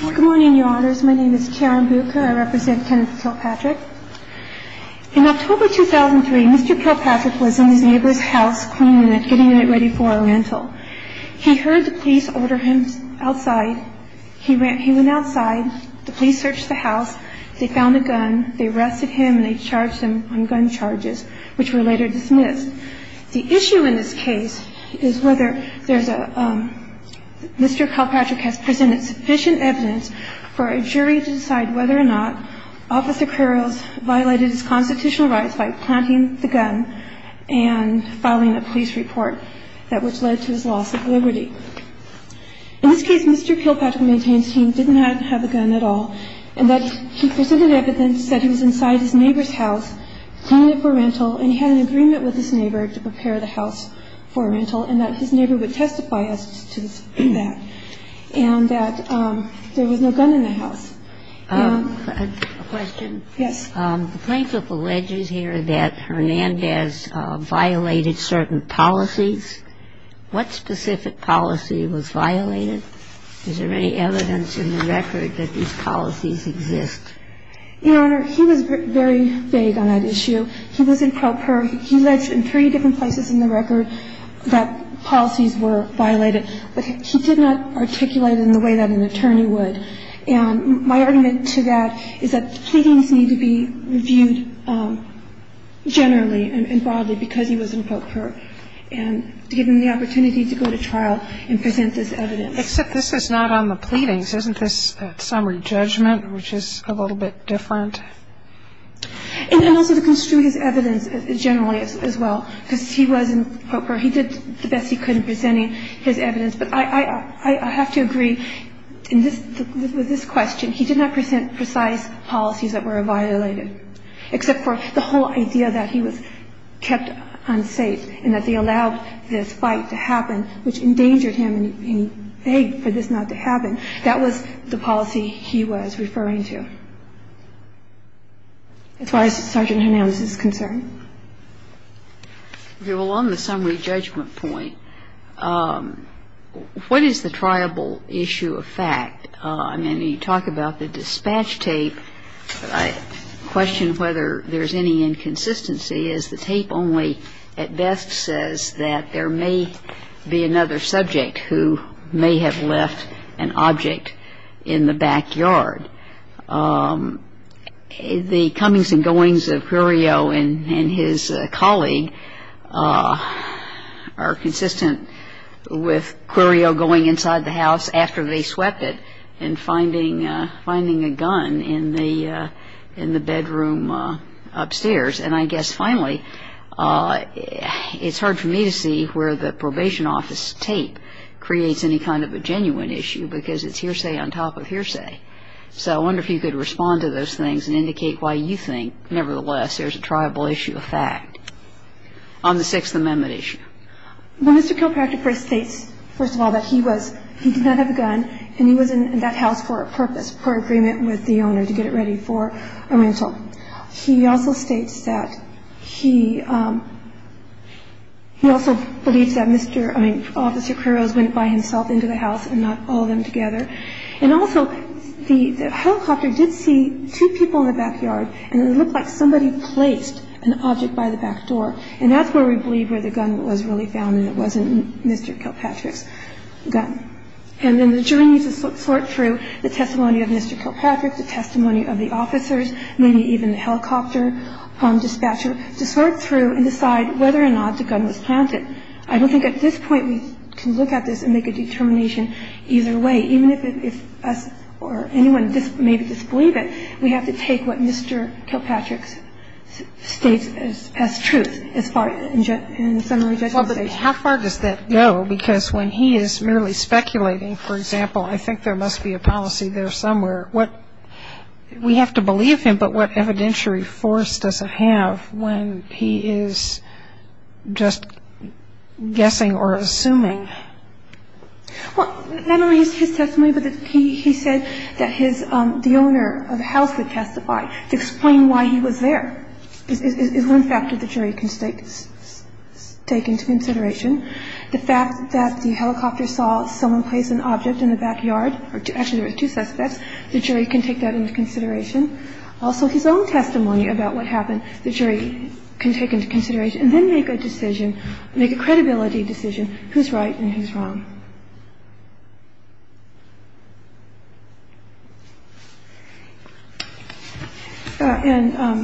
Good morning, Your Honors. My name is Karen Bucher. I represent Kenneth Kilpatrick. In October 2003, Mr. Kilpatrick was in his neighbor's house cleaning it, getting it ready for a rental. He heard the police order him outside. He went outside. The police searched the house. They found a gun. They arrested him, and they charged him on gun charges, which were later dismissed. The issue in this case is whether there's a – Mr. Kilpatrick has presented sufficient evidence for a jury to decide whether or not Officer Curls violated his constitutional rights by planting the gun and filing a police report, which led to his loss of liberty. In this case, Mr. Kilpatrick maintains he did not have a gun at all, and that he presented evidence that he was inside his neighbor's house cleaning it for rental, and he had an agreement with his neighbor to prepare the house for rental, and that his neighbor would testify as to that, and that there was no gun in the house. A question. Yes. The plaintiff alleges here that Hernandez violated certain policies. What specific policy was violated? Is there any evidence in the record that these policies exist? Your Honor, he was very vague on that issue. He was in pro per. He alleged in three different places in the record that policies were violated, but he did not articulate it in the way that an attorney would. And my argument to that is that the pleadings need to be reviewed generally and broadly because he was in pro per, and to give him the opportunity to go to trial and present this evidence. Except this is not on the pleadings. Isn't this summary judgment, which is a little bit different? And also to construe his evidence generally as well, because he was in pro per. He did the best he could in presenting his evidence. But I have to agree with this question. He did not present precise policies that were violated, except for the whole idea that he was kept unsafe and that they allowed this fight to happen, which endangered him and he begged for this not to happen. That was the policy he was referring to, as far as Sergeant Hernandez is concerned. Well, on the summary judgment point, what is the triable issue of fact? I mean, you talk about the dispatch tape. I question whether there's any inconsistency, as the tape only at best says that there may be another subject who may have left an object in the backyard. The comings and goings of Quirio and his colleague are consistent with Quirio going inside the house after they swept it and finding a gun in the bedroom upstairs. And I guess finally, it's hard for me to see where the probation office tape creates any kind of a genuine issue, because it's hearsay on top of hearsay. So I wonder if you could respond to those things and indicate why you think, nevertheless, there's a triable issue of fact on the Sixth Amendment issue. Well, Mr. Kilpractor first states, first of all, that he did not have a gun and he was in that house for a purpose, for agreement with the owner to get it ready for a rental. He also states that he also believes that Mr. – I mean, Officer Quirio went by himself into the house and not all of them together. And also, the helicopter did see two people in the backyard, and it looked like somebody placed an object by the back door. And that's where we believe where the gun was really found and it wasn't Mr. Kilpatrick's gun. And then the jury needs to sort through the testimony of Mr. Kilpatrick, the testimony of the officers, maybe even the helicopter dispatcher, to sort through and decide whether or not the gun was planted. I don't think at this point we can look at this and make a determination either way. Even if us or anyone maybe disbelieve it, we have to take what Mr. Kilpatrick states as truth as far as the summary judgment. Well, but how far does that go? Because when he is merely speculating, for example, I think there must be a policy there somewhere. What – we have to believe him, but what evidentiary force does it have when he is just guessing or assuming? Well, not only his testimony, but he said that his – the owner of the house would testify to explain why he was there. It's one factor the jury can take into consideration. The fact that the helicopter saw someone place an object in the backyard, or actually there were two suspects, the jury can take that into consideration. Also, his own testimony about what happened, the jury can take into consideration and then make a decision, make a credibility decision, who's right and who's wrong. And are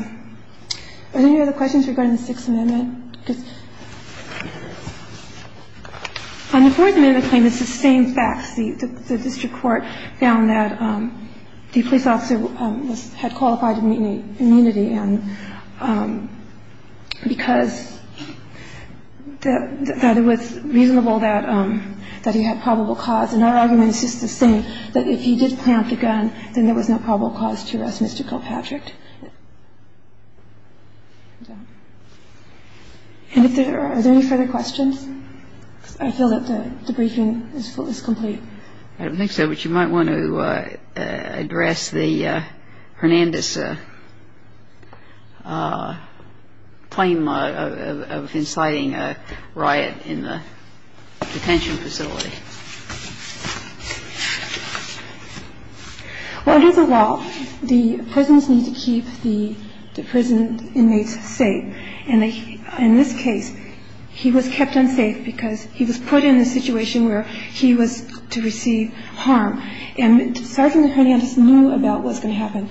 there any other questions regarding the Sixth Amendment? On the Fourth Amendment claim, it's the same facts. The district court found that the police officer had qualified immunity because it was reasonable that he had probable cause. And our argument is just the same, that if he did plant the gun, then there was no probable cause to arrest Mr. Kilpatrick. Are there any further questions? I feel that the briefing is complete. I don't think so, but you might want to address the Hernandez claim of inciting a riot in the detention facility. Well, under the law, the prisons need to keep the prison inmates safe. And in this case, he was kept unsafe because he was put in a situation where he was to receive harm. And Sergeant Hernandez knew about what was going to happen.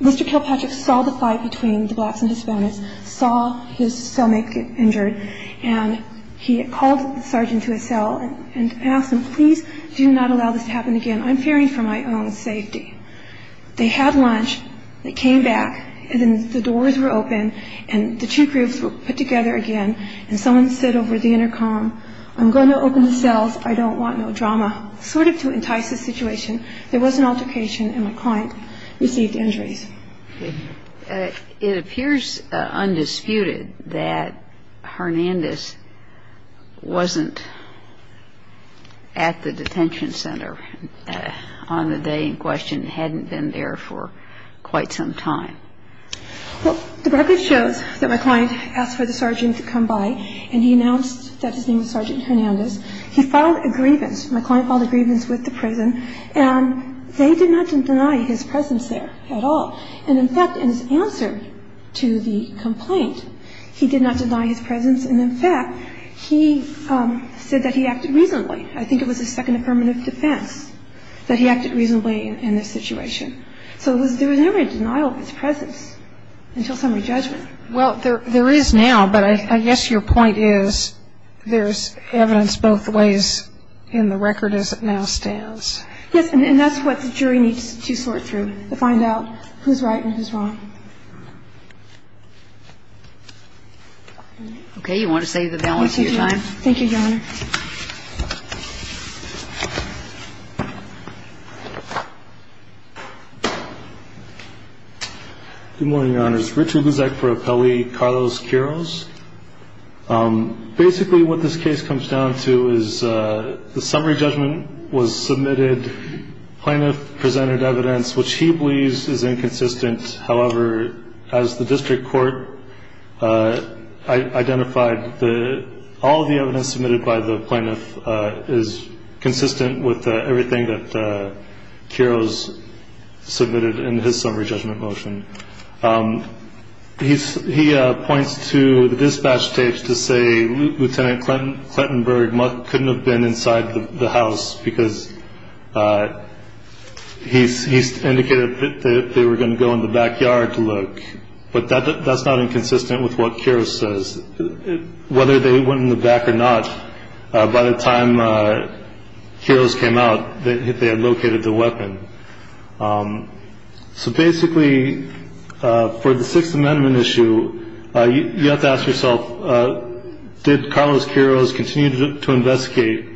Mr. Kilpatrick saw the fight between the blacks and Hispanics, saw his cellmate get injured, and he called the sergeant to his cell and asked him, please do not allow this to happen again. I'm fearing for my own safety. They had lunch. They came back. And then the doors were open, and the two groups were put together again. And someone said over the intercom, I'm going to open the cells. I don't want no drama, sort of to entice the situation. There was an altercation, and my client received injuries. It appears undisputed that Hernandez wasn't at the detention center on the day in question and hadn't been there for quite some time. Well, the record shows that my client asked for the sergeant to come by, and he announced that his name was Sergeant Hernandez. He filed a grievance. My client filed a grievance with the prison. And they did not deny his presence there at all. And, in fact, in his answer to the complaint, he did not deny his presence. And, in fact, he said that he acted reasonably. I think it was his second affirmative defense that he acted reasonably in this situation. So there was never a denial of his presence until summary judgment. Well, there is now, but I guess your point is there's evidence both ways in the record as it now stands. Yes, and that's what the jury needs to sort through to find out who's right and who's wrong. Okay. You want to save the balance of your time? Thank you, Your Honor. Thank you, Your Honor. Good morning, Your Honors. Richard Luzek for Appellee Carlos Quiroz. Basically, what this case comes down to is the summary judgment was submitted. Plaintiff presented evidence, which he believes is inconsistent. However, as the district court identified, all of the evidence submitted by the plaintiff is consistent with everything that Quiroz submitted in his summary judgment motion. He points to the dispatch tapes to say Lieutenant Clinton, Clinton Berg couldn't have been inside the house because he's indicated that they were going to go in the backyard to look. But that's not inconsistent with what Quiroz says, whether they went in the back or not. By the time Quiroz came out, they had located the weapon. So basically, for the Sixth Amendment issue, you have to ask yourself, did Carlos Quiroz continue to investigate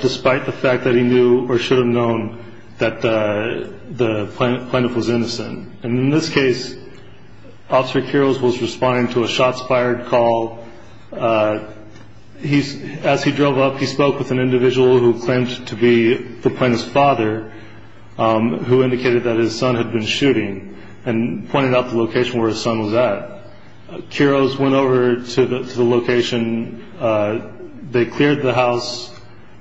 despite the fact that he knew or should have known that the plaintiff was innocent? And in this case, Officer Quiroz was responding to a shots fired call. As he drove up, he spoke with an individual who claimed to be the plaintiff's father, who indicated that his son had been shooting and pointed out the location where his son was at. Quiroz went over to the location. They cleared the house.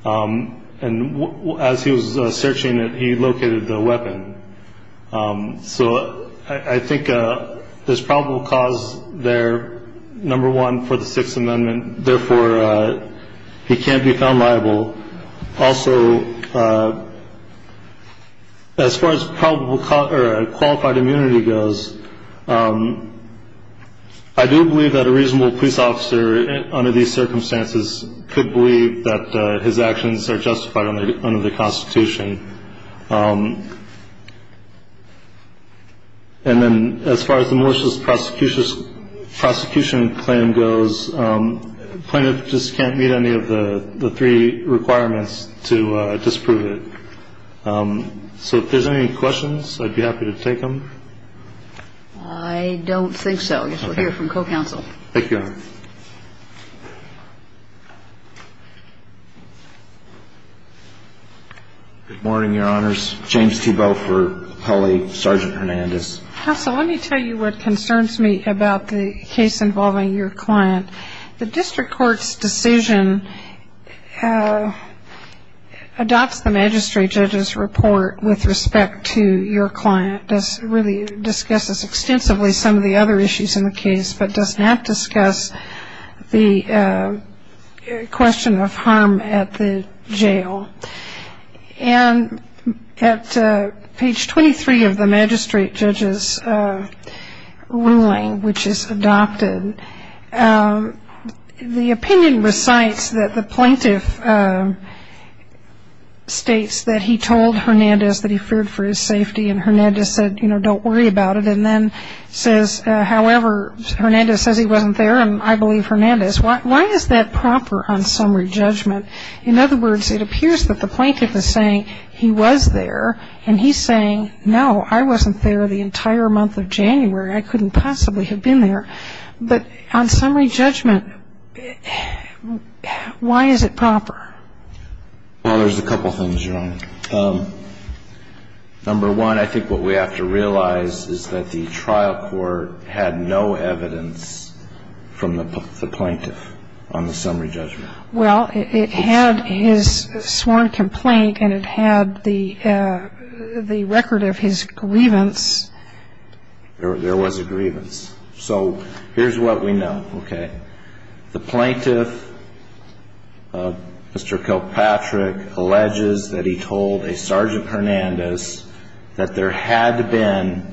And as he was searching it, he located the weapon. So I think there's probable cause there, number one, for the Sixth Amendment. Therefore, he can't be found liable. Also, as far as qualified immunity goes, I do believe that a reasonable police officer under these circumstances could believe that his actions are justified under the Constitution. And then as far as the malicious prosecution claim goes, the plaintiff just can't meet any of the three requirements to disprove it. So if there's any questions, I'd be happy to take them. I don't think so. I guess we'll hear from co-counsel. Thank you, Your Honor. Good morning, Your Honors. James Thiebaud for the appellee. Sergeant Hernandez. Counsel, let me tell you what concerns me about the case involving your client. The district court's decision adopts the magistrate judge's report with respect to your client. It really discusses extensively some of the other issues in the case but does not discuss the question of harm at the jail. And at page 23 of the magistrate judge's ruling, which is adopted, the opinion recites that the plaintiff states that he told Hernandez that he feared for his safety and Hernandez said, you know, don't worry about it, and then says, however, Hernandez says he wasn't there and I believe Hernandez. Why is that proper on summary judgment? In other words, it appears that the plaintiff is saying he was there and he's saying, no, I wasn't there the entire month of January. I couldn't possibly have been there. But on summary judgment, why is it proper? Well, there's a couple things, Your Honor. Number one, I think what we have to realize is that the trial court had no evidence from the plaintiff on the summary judgment. Well, it had his sworn complaint and it had the record of his grievance. There was a grievance. So here's what we know, okay. The plaintiff, Mr. Kilpatrick, alleges that he told a Sergeant Hernandez that there had been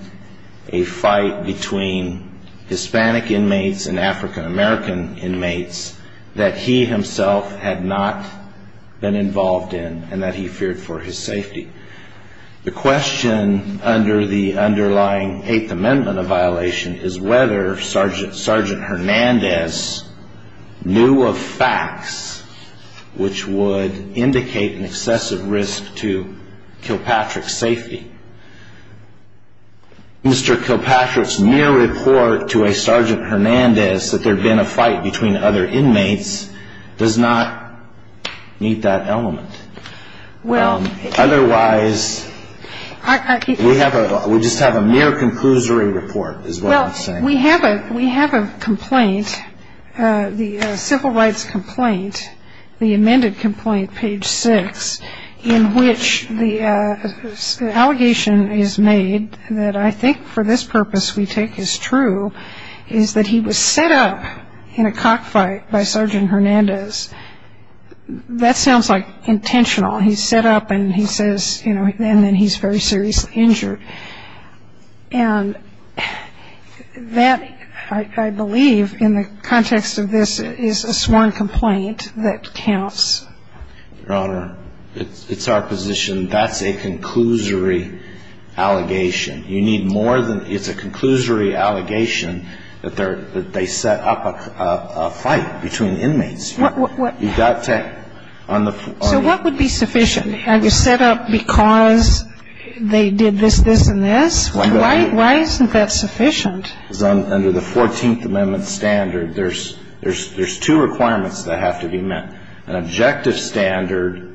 a fight between Hispanic inmates and African-American inmates that he himself had not been involved in and that he feared for his safety. The question under the underlying Eighth Amendment of violation is whether Sergeant Hernandez knew of facts which would indicate an excessive risk to Kilpatrick's safety. Mr. Kilpatrick's mere report to a Sergeant Hernandez that there had been a fight between other inmates does not meet that element. Otherwise, we just have a mere conclusory report, is what I'm saying. Well, we have a complaint, the civil rights complaint, the amended complaint, page 6, in which the allegation is made that I think for this purpose we take is true, is that he was set up in a cockfight by Sergeant Hernandez. That sounds like intentional. He's set up and he says, you know, and then he's very seriously injured. And that, I believe, in the context of this, is a sworn complaint that counts. Your Honor, it's our position that's a conclusory allegation. You need more than it's a conclusory allegation that they set up a fight between inmates. You've got to have on the floor. So what would be sufficient? Have you set up because they did this, this, and this? Why isn't that sufficient? Because under the Fourteenth Amendment standard, there's two requirements that have to be met. An objective standard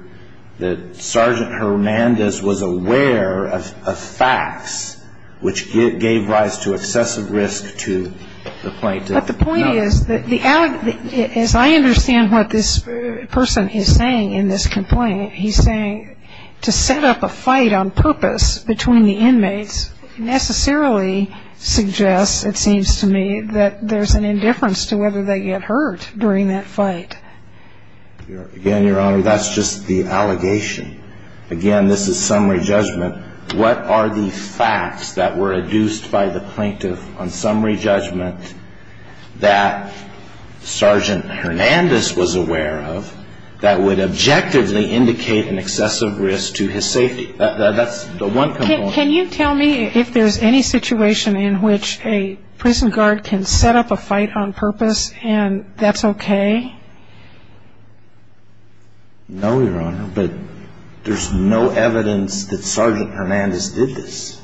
that Sergeant Hernandez was aware of facts which gave rise to excessive risk to the plaintiff. But the point is, as I understand what this person is saying in this complaint, he's saying to set up a fight on purpose between the inmates necessarily suggests, it seems to me, that there's an indifference to whether they get hurt during that fight. Again, Your Honor, that's just the allegation. Again, this is summary judgment. What are the facts that were adduced by the plaintiff on summary judgment that Sergeant Hernandez was aware of that would objectively indicate an excessive risk to his safety? That's the one component. Can you tell me if there's any situation in which a prison guard can set up a fight on purpose and that's okay? No, Your Honor, but there's no evidence that Sergeant Hernandez did this,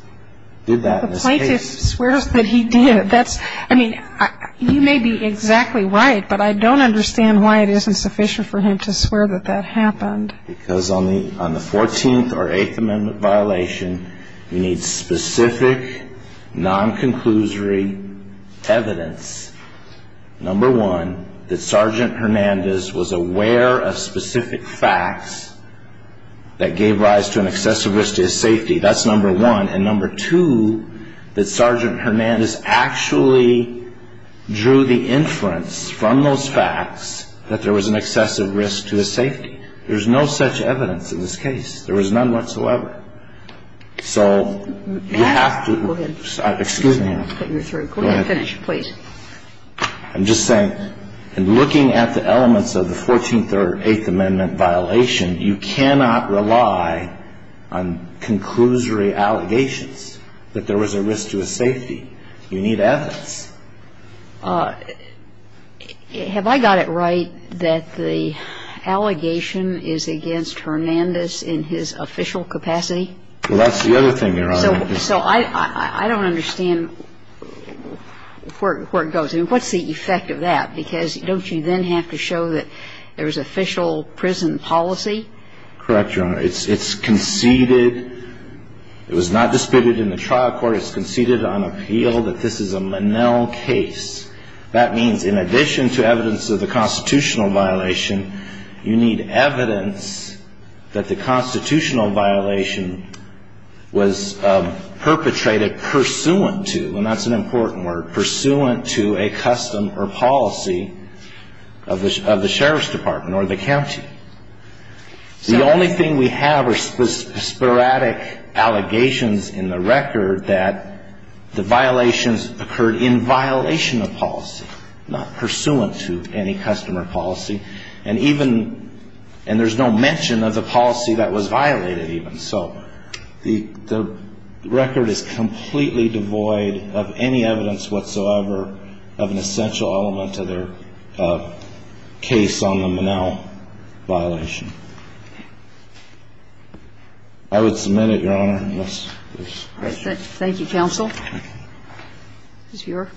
did that in this case. But the plaintiff swears that he did. That's, I mean, you may be exactly right, but I don't understand why it isn't sufficient for him to swear that that happened. Because on the Fourteenth or Eighth Amendment violation, you need specific non-conclusory evidence, number one, that Sergeant Hernandez was aware of specific facts that gave rise to an excessive risk to his safety. That's number one. And number two, that Sergeant Hernandez actually drew the inference from those facts that there was an excessive risk to his safety. There's no such evidence in this case. There is none whatsoever. So you have to – Go ahead. Excuse me, Your Honor. You're through. Go ahead. Finish, please. I'm just saying, in looking at the elements of the Fourteenth or Eighth Amendment violation, you cannot rely on conclusory allegations that there was a risk to his safety. You need evidence. Have I got it right that the allegation is against Hernandez in his official capacity? Well, that's the other thing, Your Honor. So I don't understand where it goes. I mean, what's the effect of that? Because don't you then have to show that there was official prison policy? Correct, Your Honor. It's conceded. It was not disputed in the trial court. It was conceded on appeal that this is a Monell case. That means in addition to evidence of the constitutional violation, you need evidence that the constitutional violation was perpetrated pursuant to, and that's an important word, pursuant to a custom or policy of the sheriff's department or the county. The only thing we have are sporadic allegations in the record that the violations occurred in violation of policy, not pursuant to any custom or policy. And there's no mention of the policy that was violated even. So the record is completely devoid of any evidence whatsoever of an essential element to their case on the Monell. So the only thing that's there is that the constitutional violation. I would submit it, Your Honor, unless there's questions. Thank you, counsel. Ms. Buehr.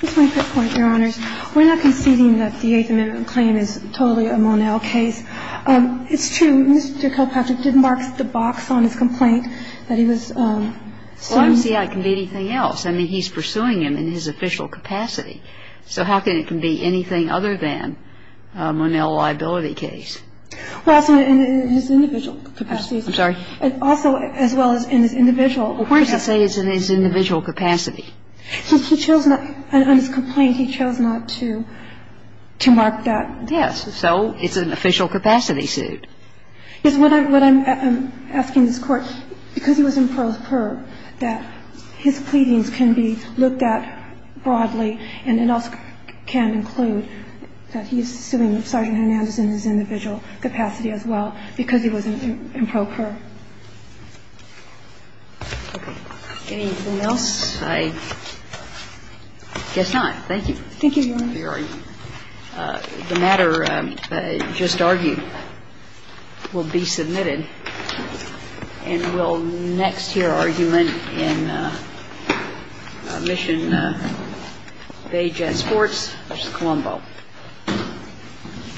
Just my quick point, Your Honors. We're not conceding that the Eighth Amendment claim is totally a Monell case. It's true. Mr. Kilpatrick did mark the box on his complaint that he was sued. So I'm saying it can be anything else. I mean, he's pursuing him in his official capacity. So how can it can be anything other than a Monell liability case? Well, it's in his individual capacity. I'm sorry? Also, as well as in his individual. Well, where does it say it's in his individual capacity? He chose not to. On his complaint, he chose not to mark that. Yes. So it's an official capacity suit. Yes. What I'm asking this Court, because he was in pro per, that his pleadings can be looked at broadly, and it also can include that he's suing Sergeant Hernandez in his individual capacity as well because he was in pro per. Okay. Anything else? I guess not. Thank you. Thank you, Your Honor. The matter just argued will be submitted. And we'll next hear argument in Mission Bay Jet Sports v. Colombo.